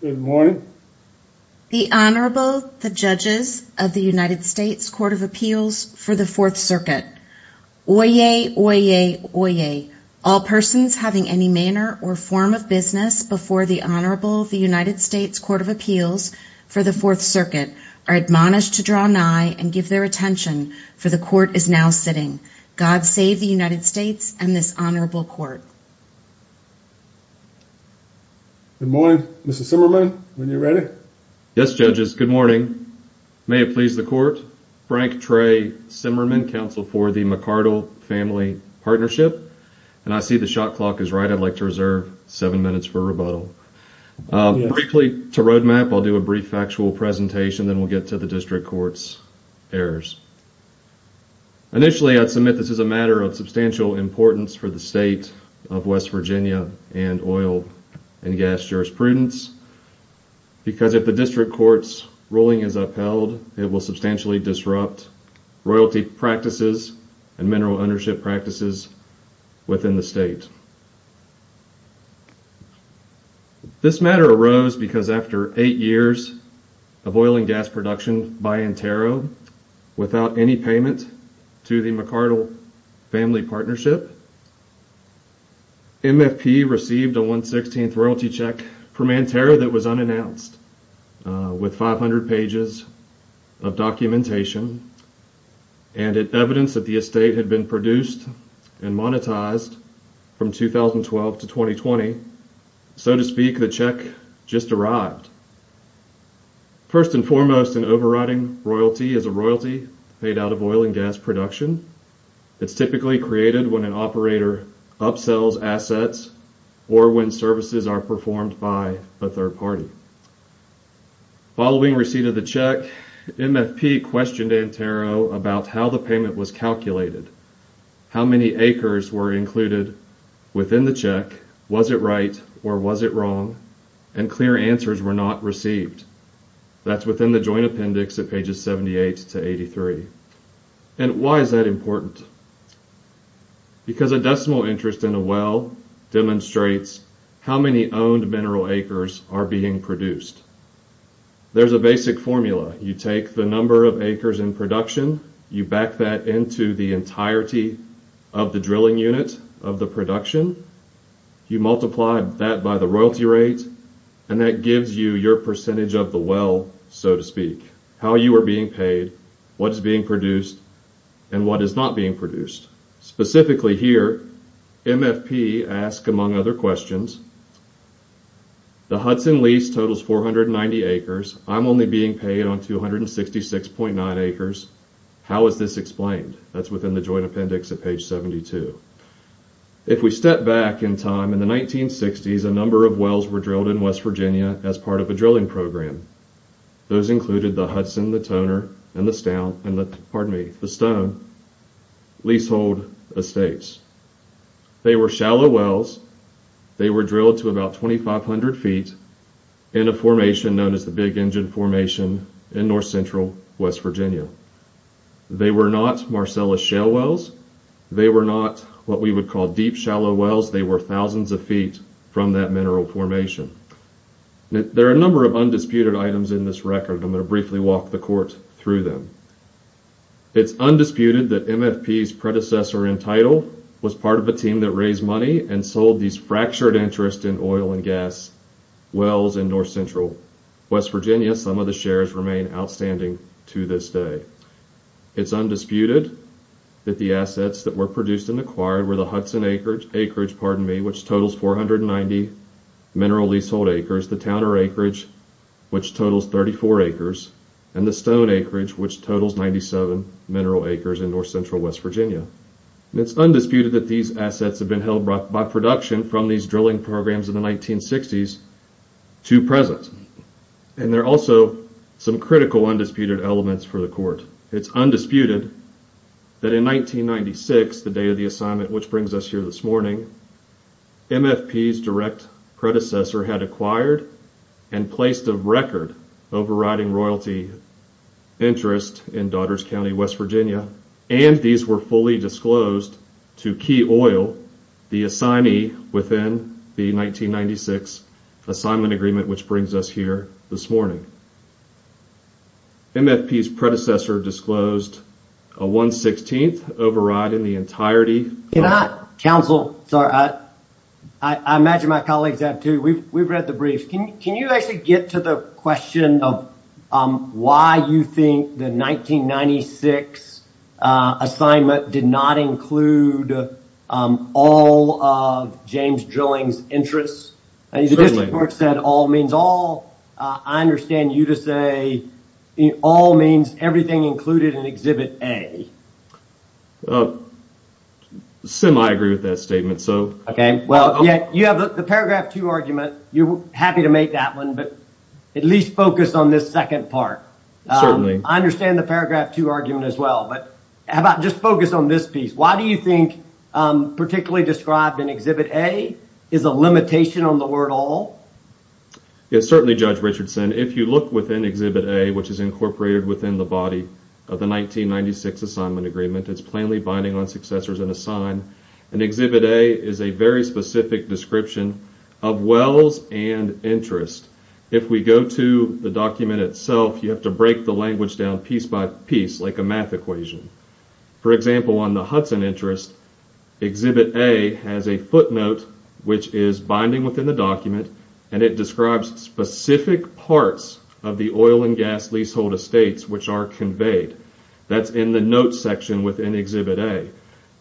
Good morning. The Honorable the Judges of the United States Court of Appeals for the Fourth Circuit. Oyez, oyez, oyez. All persons having any manner or form of business before the Honorable of the United States Court of Appeals for the Fourth Circuit are admonished to draw nigh and give their attention for the court is now sitting. God save the United States and this Honorable Court. Good morning. Mr. Simmerman, when you're ready. Yes, judges. Good morning. May it please the court. Frank Trey Simmerman, counsel for the McArdle Family Partnership. And I see the shot clock is right. I'd like to reserve seven minutes for rebuttal. Briefly to roadmap, I'll do a brief factual presentation, then we'll get to the district court's errors. Initially, I'd submit this is a matter of substantial importance for the state of West Virginia and oil and gas jurisprudence, because if the district court's ruling is upheld, it will substantially disrupt royalty practices and mineral ownership practices within the state. This matter arose because after eight years of oil and gas production by Antero, without any payment to the McArdle Family Partnership, MFP received a one-sixteenth royalty check from Antero that was unannounced with 500 pages of documentation and evidence that the estate had been produced and monetized from 2012 to 2020. So to speak, the check just arrived. First and foremost, an overriding royalty is a royalty paid out of oil and gas production. It's typically created when an operator upsells assets or when services are performed by a third party. Following receipt of the check, MFP questioned Antero about how the payment was calculated, how many acres were included within the check, was it right or was it wrong, and clear answers were not received. That's within the joint appendix at pages 78 to 83. And why is that important? Because a decimal interest in a well demonstrates how many owned mineral acres are being produced. There's a basic formula. You take the number of acres in production, you back that into the entirety of the drilling unit of the production, you multiply that by the and that gives you your percentage of the well, so to speak, how you are being paid, what is being produced, and what is not being produced. Specifically here, MFP asked, among other questions, the Hudson lease totals 490 acres. I'm only being paid on 266.9 acres. How is this explained? That's within the joint appendix at page 72. If we step back in time, in the 1960s, a number of wells were drilled in West Virginia as part of a drilling program. Those included the Hudson, the Toner, and the Stone leasehold estates. They were shallow wells. They were drilled to about 2,500 feet in a formation known as the Big Engine Formation in North Central West Virginia. They were not Marcellus shale wells. They were not what we would call deep shallow wells. They were thousands of feet from that mineral formation. There are a number of undisputed items in this record. I'm going to briefly walk the court through them. It's undisputed that MFP's predecessor in title was part of a team that raised money and sold these fractured interest in oil and gas wells in North Central West Virginia. Some of the shares remain outstanding to this day. It's undisputed that the assets that were produced and acquired were the Hudson acreage, which totals 490 mineral leasehold acres, the Toner acreage, which totals 34 acres, and the Stone acreage, which totals 97 mineral acres in North Central West Virginia. It's undisputed that these assets have been held by production from these drilling programs in the 1960s to present. There are also some critical undisputed elements for the court. It's undisputed that in 1996, the day of the assignment which brings us here this morning, MFP's direct predecessor had acquired and placed a record overriding royalty interest in Daughters County, West Virginia. These were fully disclosed to Key Oil, the assignee within the 1996 assignment agreement which brings us here this morning. MFP's predecessor disclosed a 116th override in the entirety. Can I counsel? Sorry, I imagine my colleagues have too. We've read the brief. Can you actually get to the question of why you think the 1996 assignment did not include all of James Drilling's interests? The district court said all means all. I understand you to say all means everything included in Exhibit A. Sim, I agree with that statement. You have the paragraph two argument. You're happy to make that one but at least focus on this second part. I understand the paragraph two argument as well but how about just focus on this piece. Why do you think particularly described in Exhibit A is a limitation on the word all? Yes, certainly Judge Richardson. If you look within Exhibit A which is incorporated within the body of the 1996 assignment agreement, it's plainly binding on successors and assigned and Exhibit A is a very specific description of wells and interest. If we go to the document itself, you have to break the language down piece by piece like a math equation. For example, on the Hudson interest, Exhibit A has a footnote which is binding within the document and it describes specific parts of the oil and gas leasehold estates which are that's in the note section within Exhibit A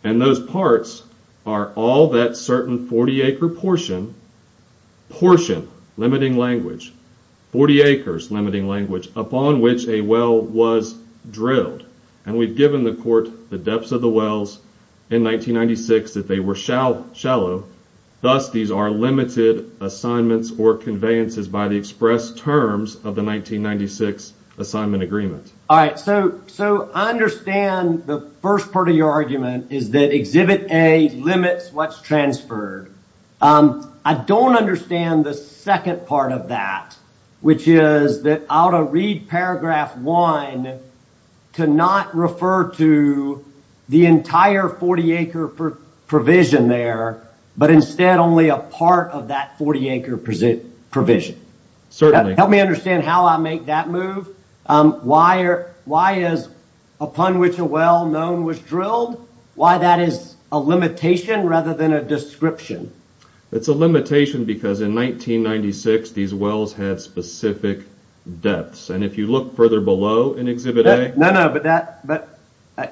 and those parts are all that certain 40 acre portion portion limiting language 40 acres limiting language upon which a well was drilled and we've given the court the depths of the wells in 1996 that they were shallow. Thus, these are limited assignments or conveyances by the express terms of the 1996 assignment agreement. All right, so I understand the first part of your argument is that Exhibit A limits what's transferred. I don't understand the second part of that which is that out of read paragraph one to not refer to the entire 40 acre provision there but instead only a part of that 40 acre provision. Certainly. Help me understand how I make that move. Why is upon which a well known was drilled? Why that is a limitation rather than a description? It's a limitation because in 1996 these wells have specific depths and if you look further below in Exhibit A. No, no but that but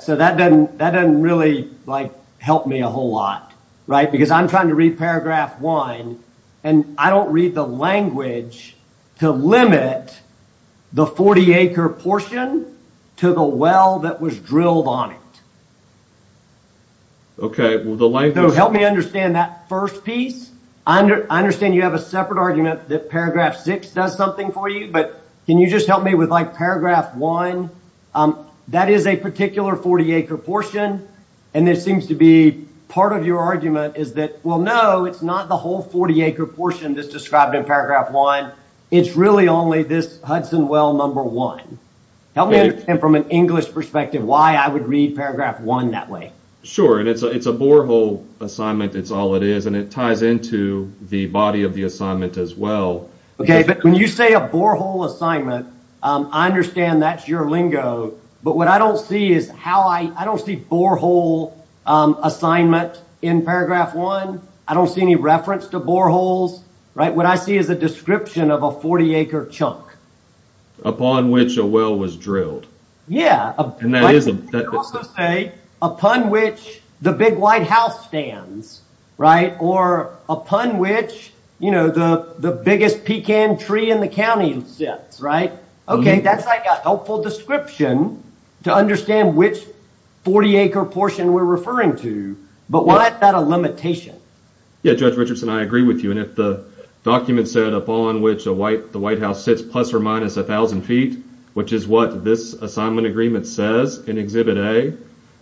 so that doesn't that doesn't really like help me a whole lot right because I'm trying to read the language to limit the 40 acre portion to the well that was drilled on it. Okay, well the language help me understand that first piece. I understand you have a separate argument that paragraph six does something for you but can you just help me with like paragraph one that is a particular 40 acre portion and it seems to be part of your argument is that well no it's not the whole 40 acre portion that's described in paragraph one it's really only this Hudson well number one. Help me understand from an English perspective why I would read paragraph one that way. Sure and it's a it's a borehole assignment it's all it is and it ties into the body of the assignment as well. Okay but when you say a borehole assignment I understand that's your lingo but what I don't see is how I I don't see borehole assignment in paragraph one. I don't see any reference to boreholes right what I see is a description of a 40 acre chunk. Upon which a well was drilled. Yeah and that is a also say upon which the big white house stands right or upon which you know the the biggest pecan tree in the county sits right. Okay that's like a helpful description to understand which 40 acre portion we're referring to but why is that a limitation? Yeah Judge Richardson I agree with you and if the document said upon which a white the white house sits plus or minus a thousand feet which is what this assignment agreement says in exhibit a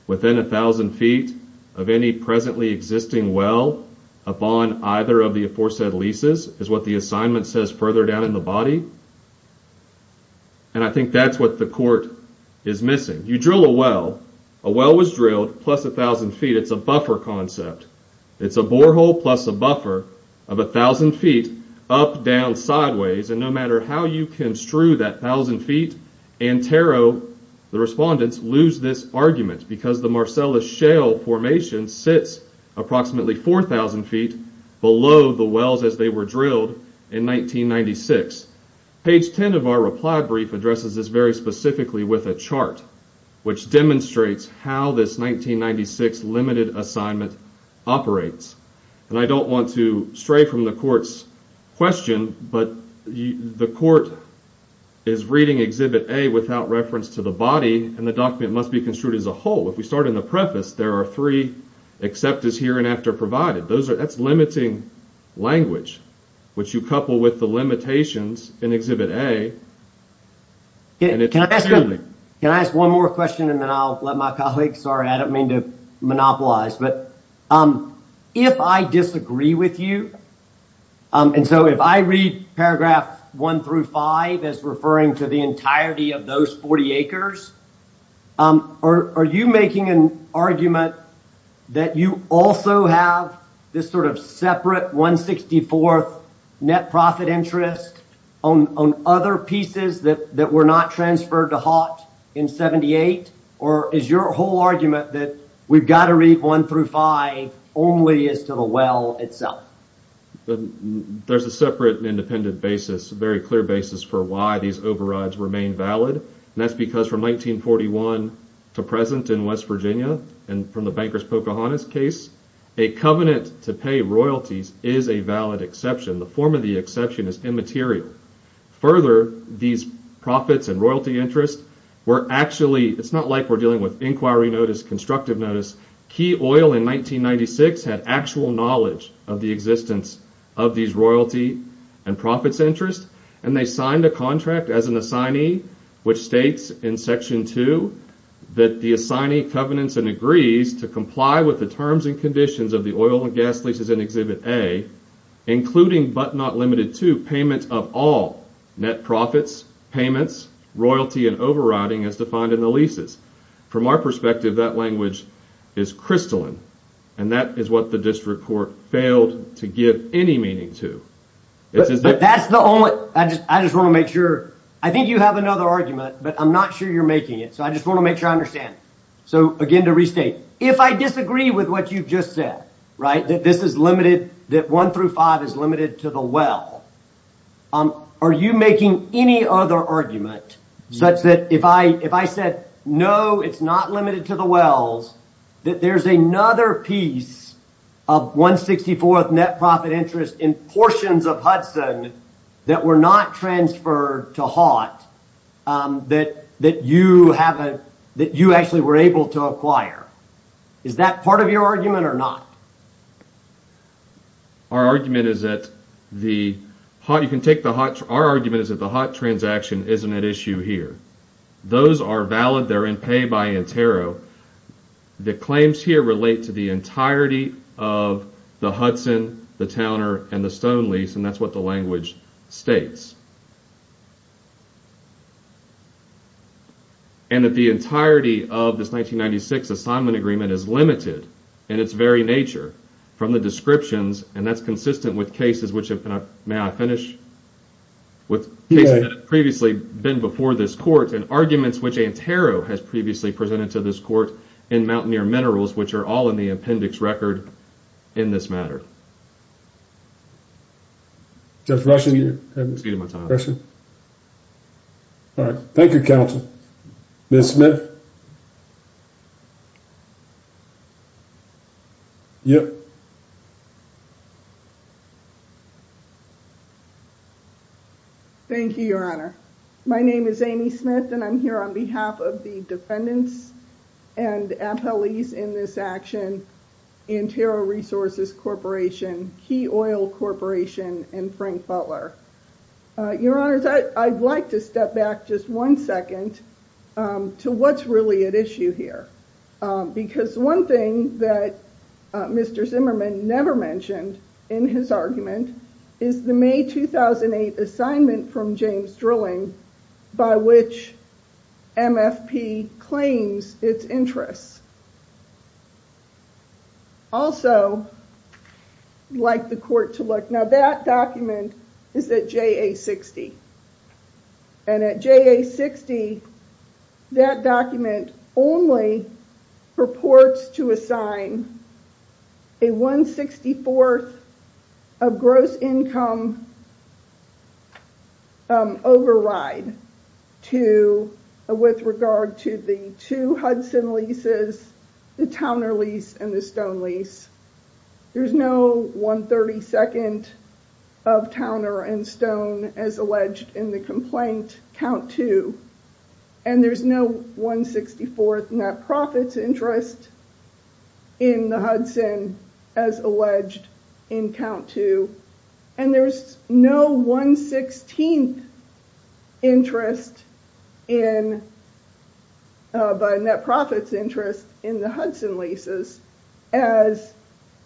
within a thousand feet of any presently existing well upon either of the aforesaid leases is what the assignment says further down in the body and I think that's what the court is missing. You drill a well a well was drilled plus a thousand feet it's a buffer concept it's a borehole plus a buffer of a thousand feet up down sideways and no matter how you construe that thousand feet and tarot the respondents lose this argument because the Marcellus shale formation sits approximately four thousand feet below the wells as they were drilled in 1996. Page 10 of our reply brief addresses this very specifically with a chart which demonstrates how this 1996 limited assignment operates and I don't want to stray from the court's question but the court is reading exhibit a without reference to the body and the document must be construed as a whole if we start in the preface there are three except as here and after provided those are that's limiting language which you couple with the limitations in exhibit a Can I ask one more question and then I'll let my colleagues sorry I don't mean to monopolize but if I disagree with you and so if I read paragraph one through five as referring to the entirety of those 40 acres are you making an argument that you also have this sort of separate 164th net profit interest on other pieces that were not transferred to Hott in 78 or is your whole argument that we've got to read one through five only as to the well itself? There's a separate independent basis a very clear basis for why these overrides remain valid and that's because from 1941 to present in West Virginia and from the Bankers Pocahontas case a covenant to pay royalties is a valid exception the form of the exception is immaterial further these profits and royalty interest were actually it's not like we're dealing with inquiry notice constructive notice key oil in 1996 had actual knowledge of the existence of these royalty and profits interest and they signed a contract as an assignee which states in section 2 that the assignee covenants and agrees to comply with the terms and conditions of the oil and gas leases in exhibit a including but not limited to payment of all net profits payments royalty and overriding as defined in the leases from our perspective that language is crystalline and that is what the district court failed to give any meaning to but that's the only I just I just want to make sure I think you have another argument but I'm not sure you're making it so I just want to make sure I understand so again to restate if I disagree with what you've just said right that this is limited that one through five is limited to the well are you making any other argument such that if I if I said no it's not limited to the wells that there's another piece of 164th net profit interest in portions of that were not transferred to hot that that you have a that you actually were able to acquire is that part of your argument or not our argument is that the hot you can take the hot our argument is that the hot transaction isn't an issue here those are valid they're in pay by interro the claims here relate to the entirety of the Hudson the towner and the stone lease and that's what the language states and that the entirety of this 1996 assignment agreement is limited in its very nature from the descriptions and that's consistent with cases which have been may I finish with cases that have previously been before this court and arguments which antero has previously presented to this court in mountaineer minerals which are all in the appendix record in this matter just rushing you to my time person all right thank you counsel miss smith yep thank you your honor my name is amy smith and i'm here on behalf of the defendants and appellees in this action antero resources corporation key oil corporation and frank butler your honors i'd like to step back just one second to what's really at issue here because one thing that mr zimmerman never mentioned in his argument is the may 2008 assignment from james drilling by which mfp claims its interests also like the court to look now that document is that ja60 and at ja60 that document only purports to assign a 1 64th of gross income override to with regard to the two hudson leases the towner lease and the stone lease there's no 132nd of towner and stone as alleged in the complaint count two and there's no 164th net profits interest in the hudson as alleged in count two and there's no 116th interest in by net profits interest in the hudson leases as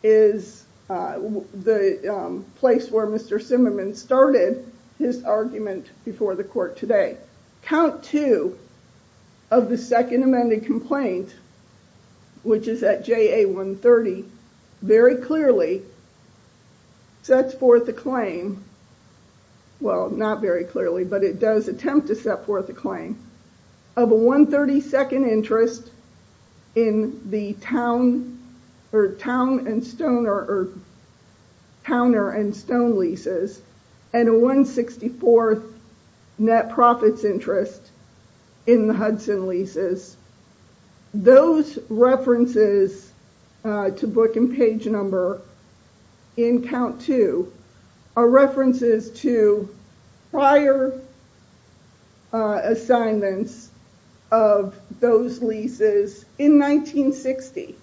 is the place where mr started his argument before the court today count two of the second amended complaint which is at ja130 very clearly sets forth a claim well not very clearly but it does attempt to set forth a claim of a 132nd interest in the town or town and stoner or counter and stone leases and a 164th net profits interest in the hudson leases those references to book and page number in count two are references to prior uh assignments of those leases in 1960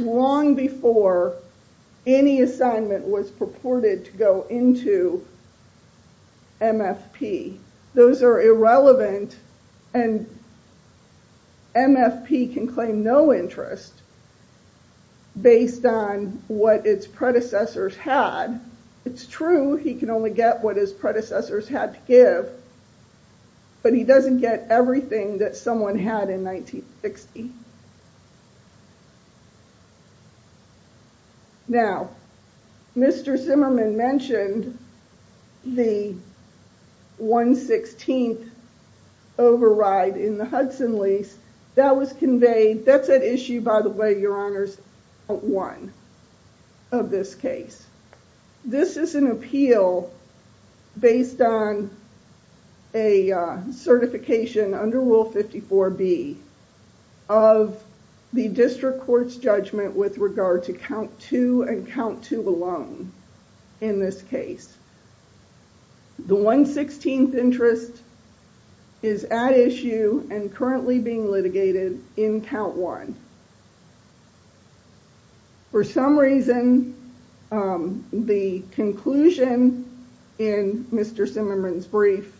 long before any assignment was purported to go into mfp those are irrelevant and mfp can claim no interest based on what its predecessors had it's true he can only get what his predecessors had give but he doesn't get everything that someone had in 1960 now mr zimmerman mentioned the 116th override in the hudson lease that was conveyed that's an issue by the way your honors one of this case this is an appeal based on a certification under rule 54b of the district court's judgment with regard to count two and count two alone in this case the 116th interest is at issue and currently being litigated in count one for some reason um the conclusion in mr zimmerman's brief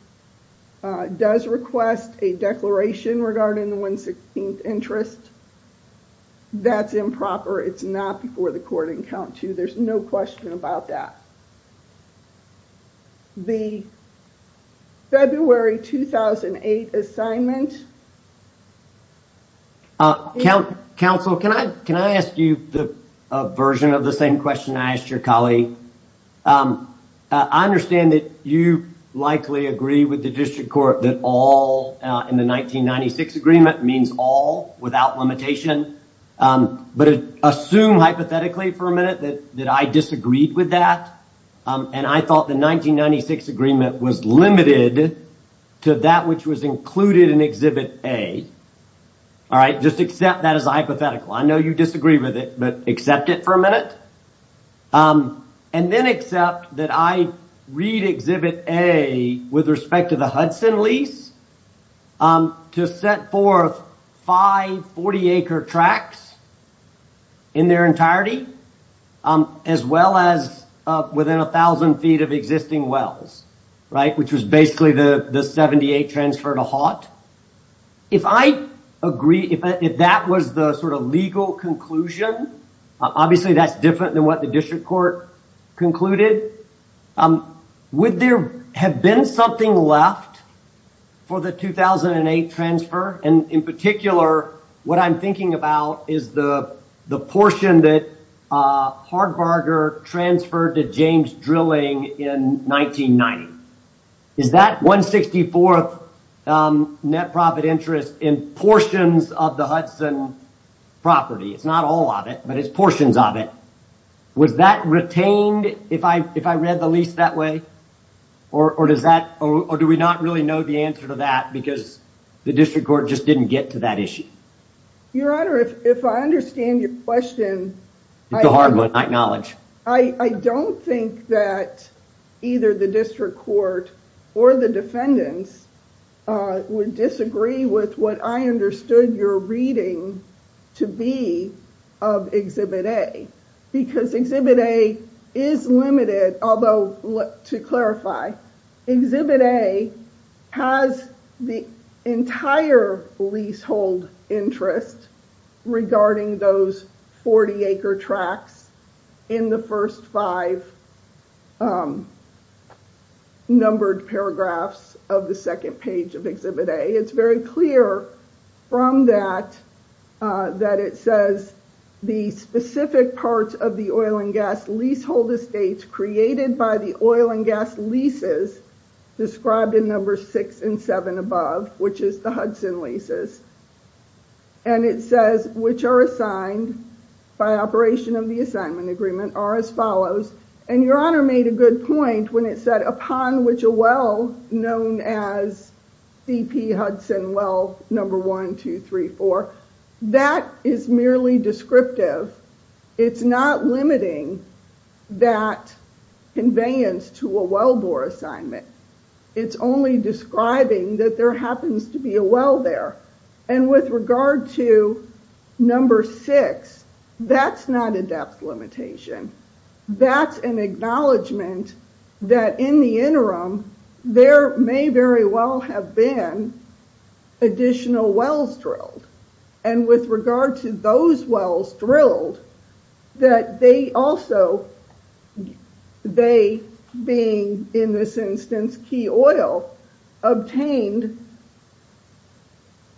uh does request a declaration regarding the 116th interest that's improper it's not before the court in count two there's no question about that the february 2008 assignment uh count counsel can i can i ask you the version of the same question i asked your colleague i understand that you likely agree with the district court that all in the 1996 agreement means all without limitation um but assume hypothetically for a minute that that i disagreed with that um and i thought the 1996 agreement was limited to that which was included in exhibit a all right just accept that as a hypothetical i know you disagree with it but accept it for a minute um and then accept that i read exhibit a with respect to the hudson lease um to set forth 5 40 acre tracks in their entirety um as well as uh within a thousand feet of existing wells right which was basically the the 78 transfer to hot if i agree if that was the sort of legal conclusion obviously that's different than what the district court concluded um would there have been something left for the 2008 transfer and in particular what i'm thinking about is the the portion that uh hardberger transferred to james drilling in 1990 is that 164th um net profit interest in portions of the hudson property it's not all of it but it's it was that retained if i if i read the lease that way or or does that or do we not really know the answer to that because the district court just didn't get to that issue your honor if i understand your question it's a hard one i acknowledge i i don't think that either the district court or the defendants uh would disagree with what i understood your reading to be of exhibit a because exhibit a is limited although to clarify exhibit a has the entire leasehold interest regarding those 40 acre tracks in the first five um numbered paragraphs of the second page of exhibit a it's very clear from that that it says the specific parts of the oil and gas leasehold estates created by the oil and gas leases described in number six and seven above which is the hudson leases and it says which are assigned by operation of the assignment agreement are as follows and your honor made a good point when it said upon which a well known as cp hudson well number one two three four that is merely descriptive it's not limiting that conveyance to a wellbore assignment it's only describing that there happens to be a well there and with regard to number six that's not a depth limitation that's an acknowledgment that in the interim there may very well have been additional wells drilled and with regard to those wells drilled that they also they being in this instance key oil obtained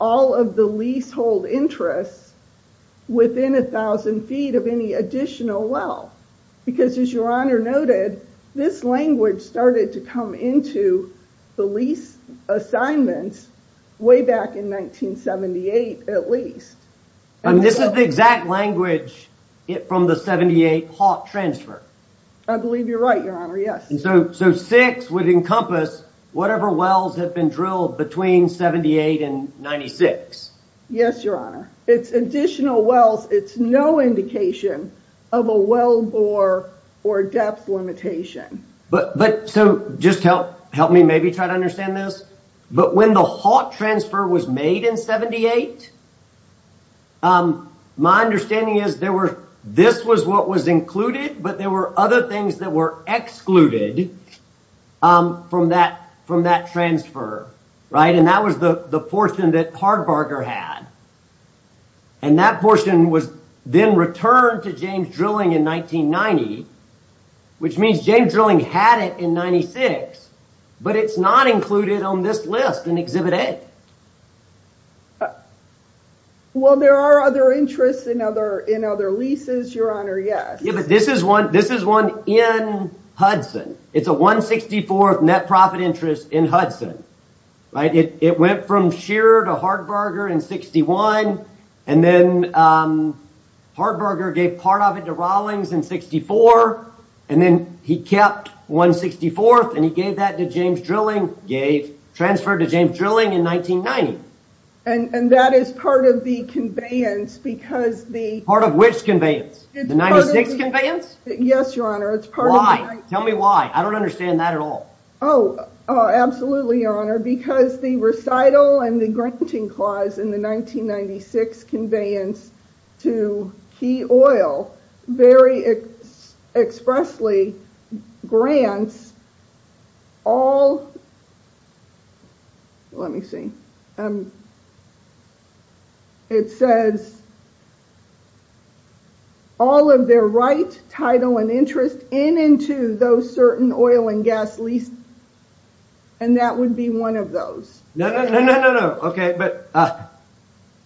all of the leasehold interests within a thousand feet of any additional well because as your honor noted this language started to come into the lease assignments way back in 1978 at least and this is the exact language it from the 78 hawk transfer i believe you're right your honor yes so so six would encompass whatever wells have been drilled between 78 and 96 yes your honor it's additional wells it's no indication of a wellbore or depth limitation but but so just help help me maybe try to understand this but when the hawk transfer was made in 78 um my understanding is there were this was what was included but there were other things that were excluded um from that from that transfer right and that was the the portion that hardberger had and that portion was then returned to james drilling in 1990 which means james drilling had it in 96 but it's not included on this list in exhibit a well there are other interests in other in other leases your honor yes yeah but this is one this is in hudson it's a 164th net profit interest in hudson right it it went from shearer to hardberger in 61 and then um hardberger gave part of it to rawlings in 64 and then he kept 164th and he gave that to james drilling gave transferred to james drilling in 1990 and and that is part of the conveyance because the part of which conveyance the 96 conveyance yes your honor it's part why tell me why i don't understand that at all oh absolutely your honor because the recital and the granting clause in the 1996 conveyance to key oil very expressly grants all let me see um it says all of their right title and interest in into those certain oil and gas lease and that would be one of those no no no no okay but uh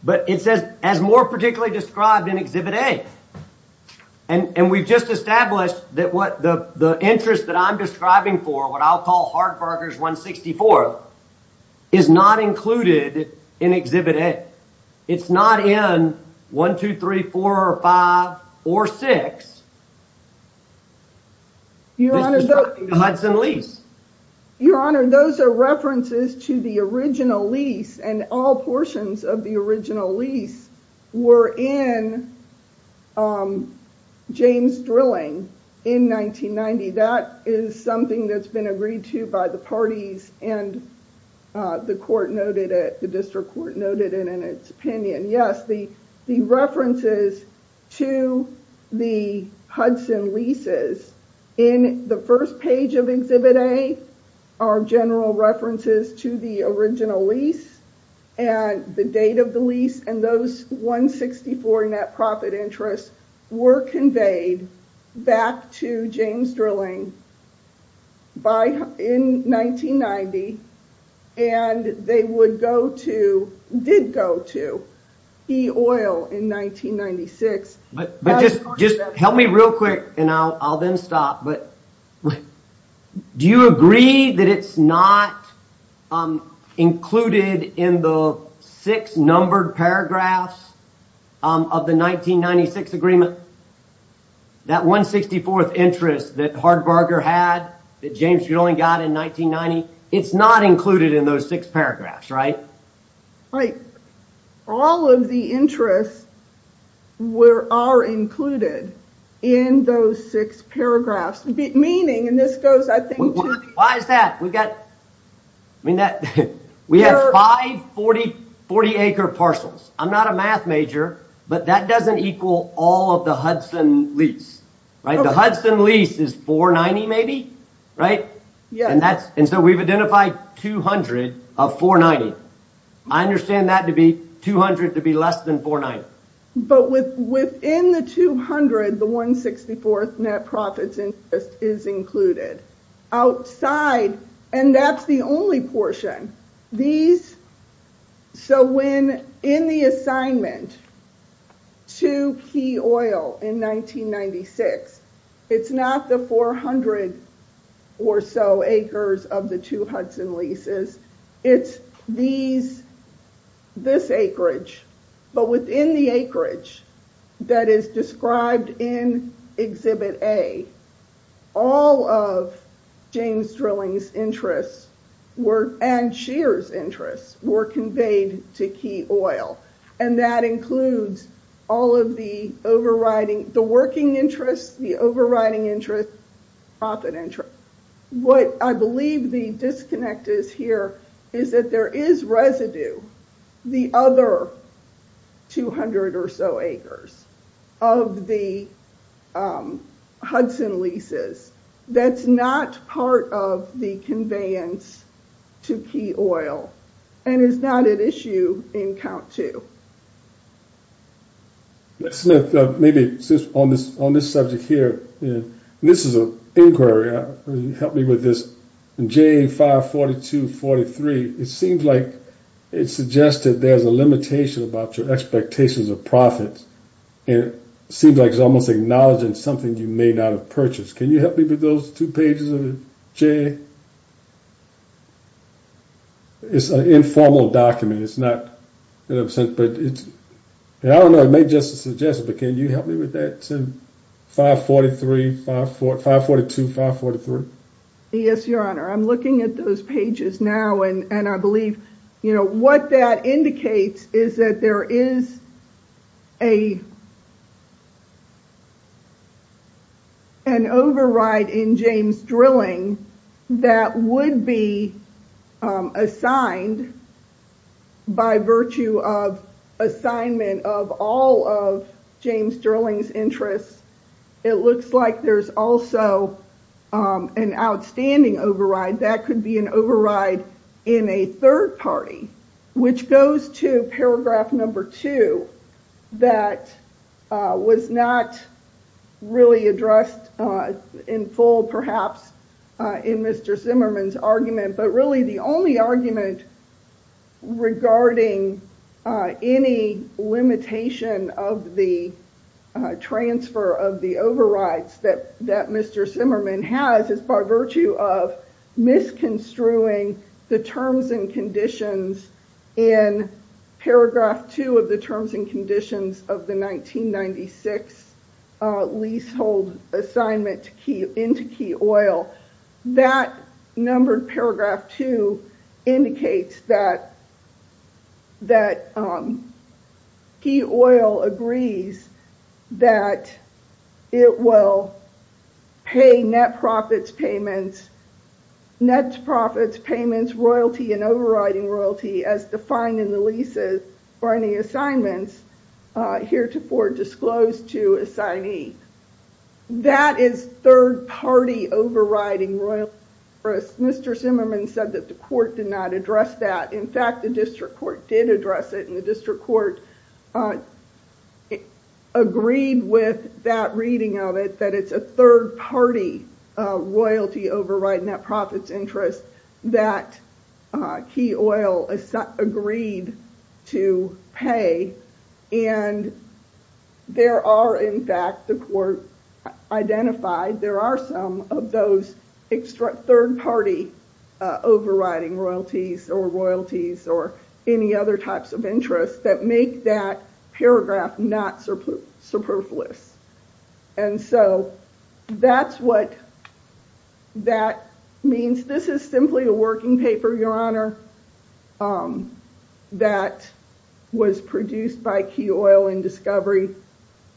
but it says as more particularly described in exhibit a and and we've just established that what the the interest that i'm describing for what i'll call hardberger's 164th is not included in exhibit a it's not in one two three four or five or six your honor hudson lease your honor those are references to the original lease and all portions of the original lease were in um james drilling in 1990 that is something that's been agreed to by the parties and uh the court noted it the district court noted it in its opinion yes the the references to the hudson leases in the first page of exhibit a are general references to the original lease and the date of the lease and those 164 net profit interests were conveyed back to james drilling by in 1990 and they would go to did go to key oil in 1996 but but just just help me real quick and i'll i'll then stop but do you agree that it's not um included in the six numbered paragraphs of the 1996 agreement that 164th interest that hardberger had that james you only got in 1990 it's not included in those six paragraphs right like all of the interests were are included in those six paragraphs meaning and this goes i think why is that we've got i mean that we have 540 40 acre parcels i'm not a math major but that doesn't equal all of the hudson lease right the hudson lease is 490 maybe right yeah and that's and so we've identified 200 of 490 i understand that to be 200 to be less than 49 but with within the 200 the 164th net profits interest is included outside and that's the only portion these so when in the assignment to key oil in 1996 it's not the 400 or so acres of the hudson leases it's these this acreage but within the acreage that is described in exhibit a all of james drilling's interests were and sheer's interests were conveyed to key oil and that includes all of the overriding the working interests the overriding interest profit what i believe the disconnect is here is that there is residue the other 200 or so acres of the hudson leases that's not part of the conveyance to key oil and is not at issue in count to maybe since on this on this subject here and this is a inquiry help me with this j5 42 43 it seems like it suggested there's a limitation about your expectations of profits and it seems like it's almost acknowledging something you may not have purchased can you help me with those two pages j it's an informal document it's not in a sense but it's and i don't know it may just suggest but can you help me with that 5 43 5 4 5 42 5 43 yes your honor i'm looking at those pages now and and i believe you know what that indicates is that there is a an override in james drilling that would be assigned by virtue of assignment of all of james drilling's interests it looks like there's also an outstanding override that could be an in a third party which goes to paragraph number two that was not really addressed in full perhaps in mr zimmerman's argument but really the only argument regarding any limitation of the transfer of the overrides that that mr zimmerman has is by virtue of misconstruing the terms and conditions in paragraph two of the terms and conditions of the 1996 leasehold assignment to key into key oil that numbered paragraph two indicates that that um key oil agrees that it will pay net profits payments nets profits payments royalty and overriding royalty as defined in the leases or any assignments uh heretofore disclosed to assignee that is third party overriding royal risk mr zimmerman said that the court did not address that in fact the district court did address it in the district court agreed with that reading of it that it's a third party royalty override net profits interest that key oil is agreed to pay and there are in fact the court identified there are some of those extra third party uh overriding royalties or royalties or any other types of interests that make that paragraph not superfluous and so that's what that means this is simply a working paper your honor um that was produced by key oil and discovery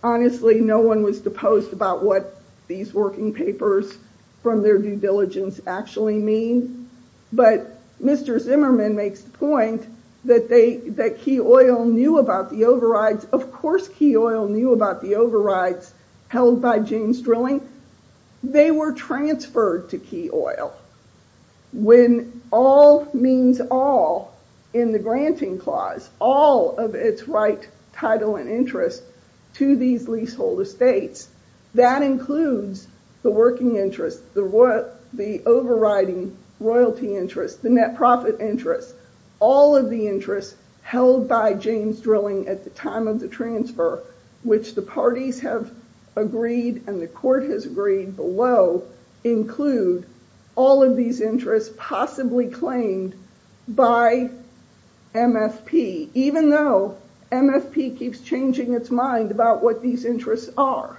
honestly no one was deposed about what these working papers from their due diligence actually mean but mr zimmerman makes the point that they that key oil knew about the overrides of course key oil knew about the overrides held by james drilling they were transferred to key oil when all means all in the granting clause all of its right title and interest to these leasehold estates that includes the working interest the what the overriding royalty interest the net profit interest all of the interests held by james drilling at the time of the transfer which the parties have agreed and the court has below include all of these interests possibly claimed by mfp even though mfp keeps changing its mind about what these interests are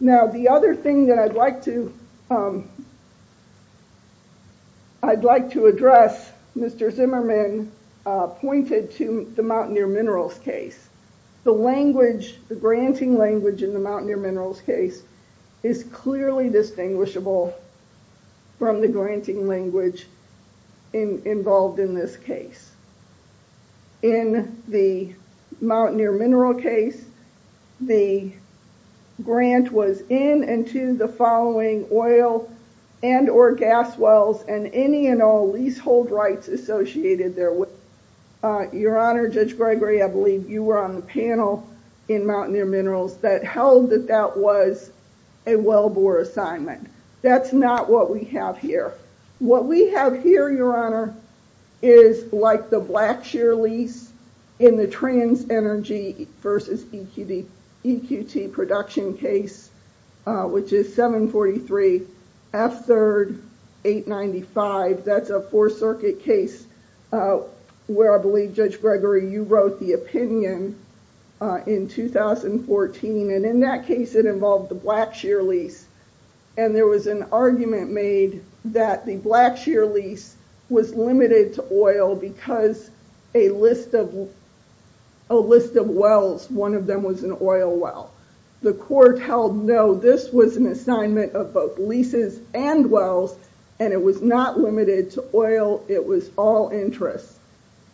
now the other thing that i'd like to um i'd like to address mr zimmerman uh pointed to the mountaineer minerals case the language the granting language in the mountaineer minerals case is clearly distinguishable from the granting language involved in this case in the mountaineer mineral case the grant was in and to the following oil and or gas wells and any and all leasehold rights associated there with uh your honor judge gregory i believe you were on the panel in mountaineer minerals that held that that was a wellbore assignment that's not what we have here what we have here your honor is like the blackshear lease in the trans energy versus eqd eqt production case uh which is 743 f third 895 that's a four circuit case uh where i believe judge gregory you wrote the opinion uh in 2014 and in that case it involved the blackshear lease and there was an argument made that the blackshear lease was limited to oil because a list of a list of wells one of them was an oil well the court held no this was an assignment of both leases and wells and it was not limited to oil it was all interests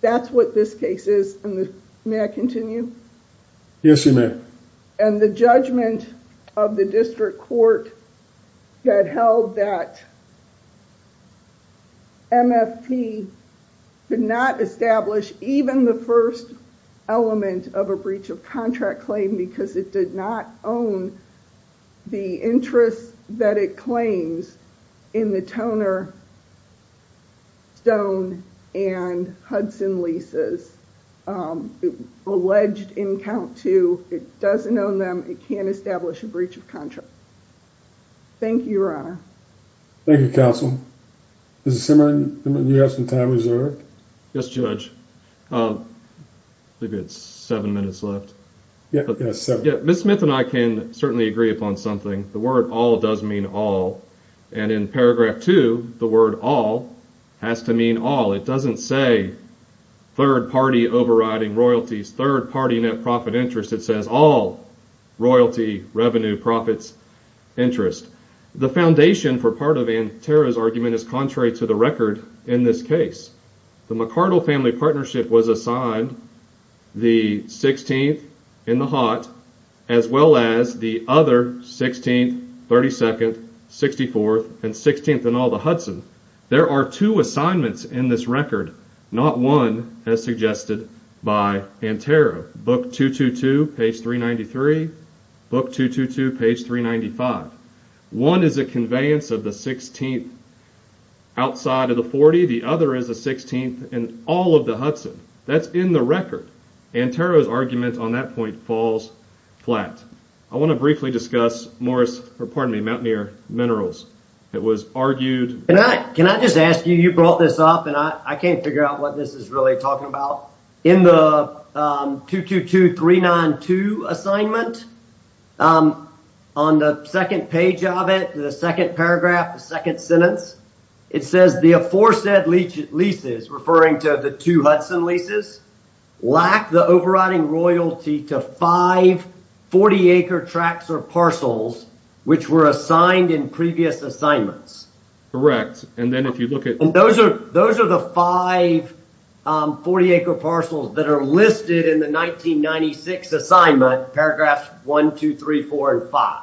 that's what this case is and may i continue yes you may and the judgment of the district court that held that mft could not establish even the first element of a breach of contract claim because it did not own the interest that it claims in the toner stone and hudson leases um alleged in count two it doesn't own them it can't establish a breach of contract thank you your honor thank you counsel mr simmering you have some time is there yes judge um maybe it's seven minutes left yeah so yeah miss smith and i can certainly agree upon something the word all does mean all and in paragraph two the word all has to mean all it doesn't say third party overriding royalties third party net profit interest it says all royalty revenue profits interest the foundation for part of antera's argument is contrary to the record in this case the mccardle family partnership was assigned the 16th in the hot as well as the other 16 32nd 64th and 16th in all the hudson there are two assignments in this record not one as suggested by antera book 222 page 393 book 222 page 395 one is a conveyance of the 16th outside of the 40 the other is the 16th all of the hudson that's in the record antero's argument on that point falls flat i want to briefly discuss morris or pardon me mountaineer minerals it was argued and i can i just ask you you brought this up and i i can't figure out what this is really talking about in the um 222 392 assignment um on the second page of it the second paragraph the second sentence it says the aforesaid leeches referring to the two hudson leases lack the overriding royalty to 5 40 acre tracts or parcels which were assigned in previous assignments correct and then if you look at those are those are the 5 40 acre parcels that are listed in the 1996 assignment paragraphs one two three four and five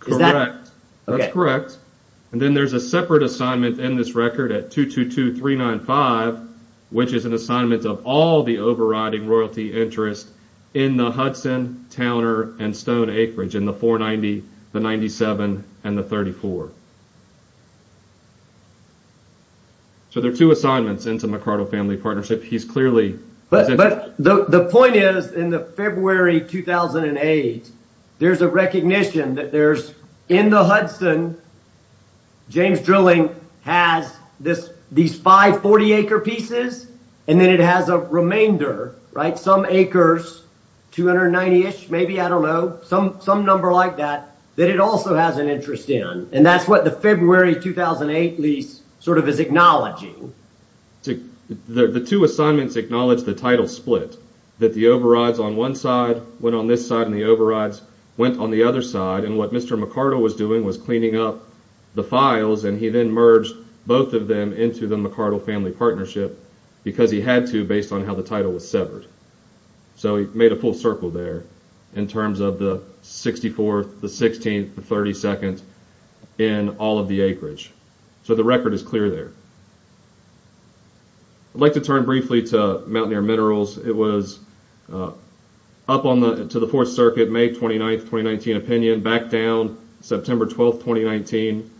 correct that's correct and then there's a separate assignment in this record at 222 395 which is an assignment of all the overriding royalty interest in the hudson towner and stone acreage in the 490 the 97 and the 34 so there are two assignments into he's clearly but but the the point is in the february 2008 there's a recognition that there's in the hudson james drilling has this these 5 40 acre pieces and then it has a remainder right some acres 290 ish maybe i don't know some some number like that that it also has an interest in and that's what the february 2008 lease sort of is acknowledging to the two assignments acknowledge the title split that the overrides on one side went on this side and the overrides went on the other side and what mr mccardle was doing was cleaning up the files and he then merged both of them into the mccardle family partnership because he had to based on how the in all of the acreage so the record is clear there i'd like to turn briefly to mountaineer minerals it was up on the to the fourth circuit may 29th 2019 opinion back down september 12th 2019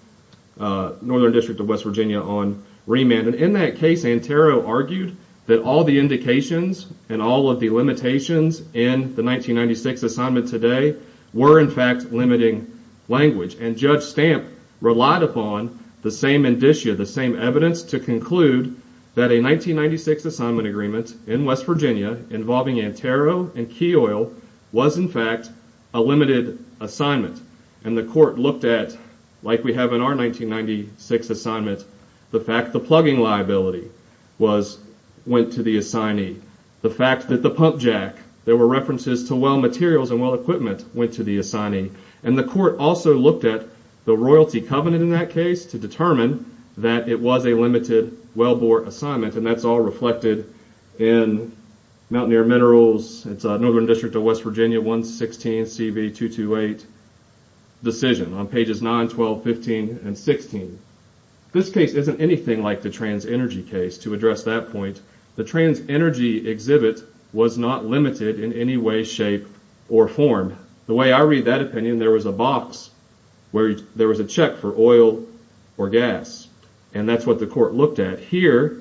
northern district of west virginia on remand and in that case antero argued that all the indications and all of the limitations in the 1996 assignment today were in fact limiting language and judge stamp relied upon the same indicia the same evidence to conclude that a 1996 assignment agreement in west virginia involving antero and key oil was in fact a limited assignment and the court looked at like we have in our 1996 assignment the fact the plugging liability was went to the assignee the fact that the pump jack there were references to well materials and well went to the assignee and the court also looked at the royalty covenant in that case to determine that it was a limited wellbore assignment and that's all reflected in mountaineer minerals it's a northern district of west virginia 116 cb 228 decision on pages 9 12 15 and 16. this case isn't anything like the trans energy case to address that point the trans energy exhibit was not limited in any way shape or form the way i read that opinion there was a box where there was a check for oil or gas and that's what the court looked at here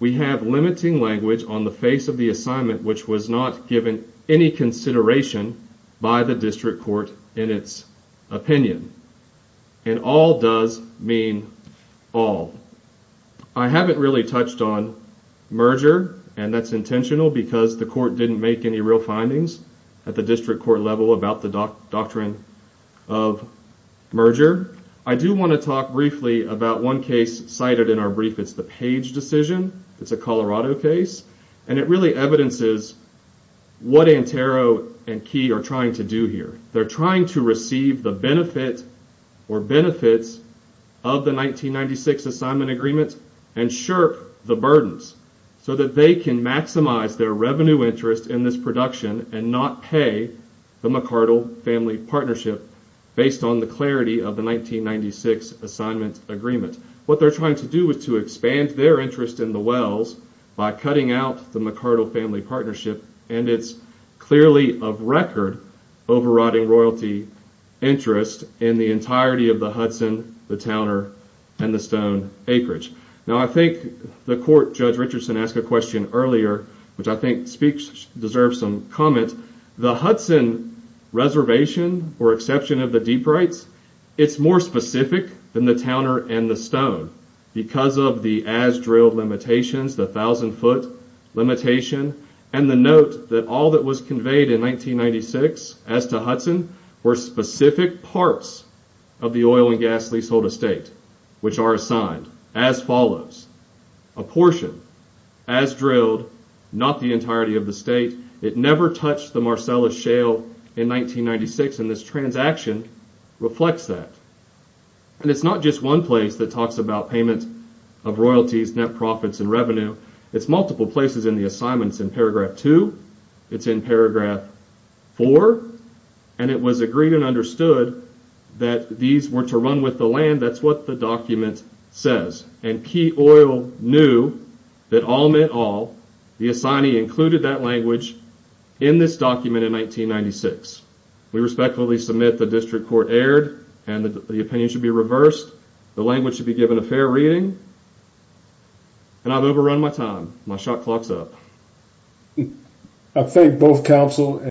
we have limiting language on the face of the assignment which was not given any consideration by the district court in its opinion and all does mean all i haven't really touched on merger and that's intentional because the court didn't make any real findings at the district court level about the doctrine of merger i do want to talk briefly about one case cited in our brief it's the page decision it's a colorado case and it really evidences what antero and key are trying to do here they're trying to receive the benefit or benefits of the 1996 assignment agreement and shirk the burdens so that they can maximize their revenue interest in this production and not pay the mccardle family partnership based on the clarity of the 1996 assignment agreement what they're trying to do is to expand their interest in the wells by cutting out the mccardle family partnership and it's clearly of record overriding royalty interest in the entirety of the hudson the towner and the stone acreage now i think the court judge richardson asked a question earlier which i think speaks deserves some comment the hudson reservation or exception of the deep rights it's more specific than the towner and the stone because of the as drilled limitations the thousand foot limitation and the note that all that was conveyed in 1996 as to hudson were specific parts of the oil and gas leasehold estate which are assigned as follows a portion as drilled not the entirety of the state it never touched the marcellus shale in 1996 and this transaction reflects that and it's not just one place that talks about payment of royalties net profits and revenue it's multiple places in the assignments in paragraph two it's in paragraph four and it was agreed and understood that these were to run with the land that's what the document says and key oil knew that all meant all the assignee included that language in this document in 1996 we respectfully submit the district court aired and the opinion should be reversed the language should be given a fair reading and i've overrun my time my shot clocks up i think both counsel and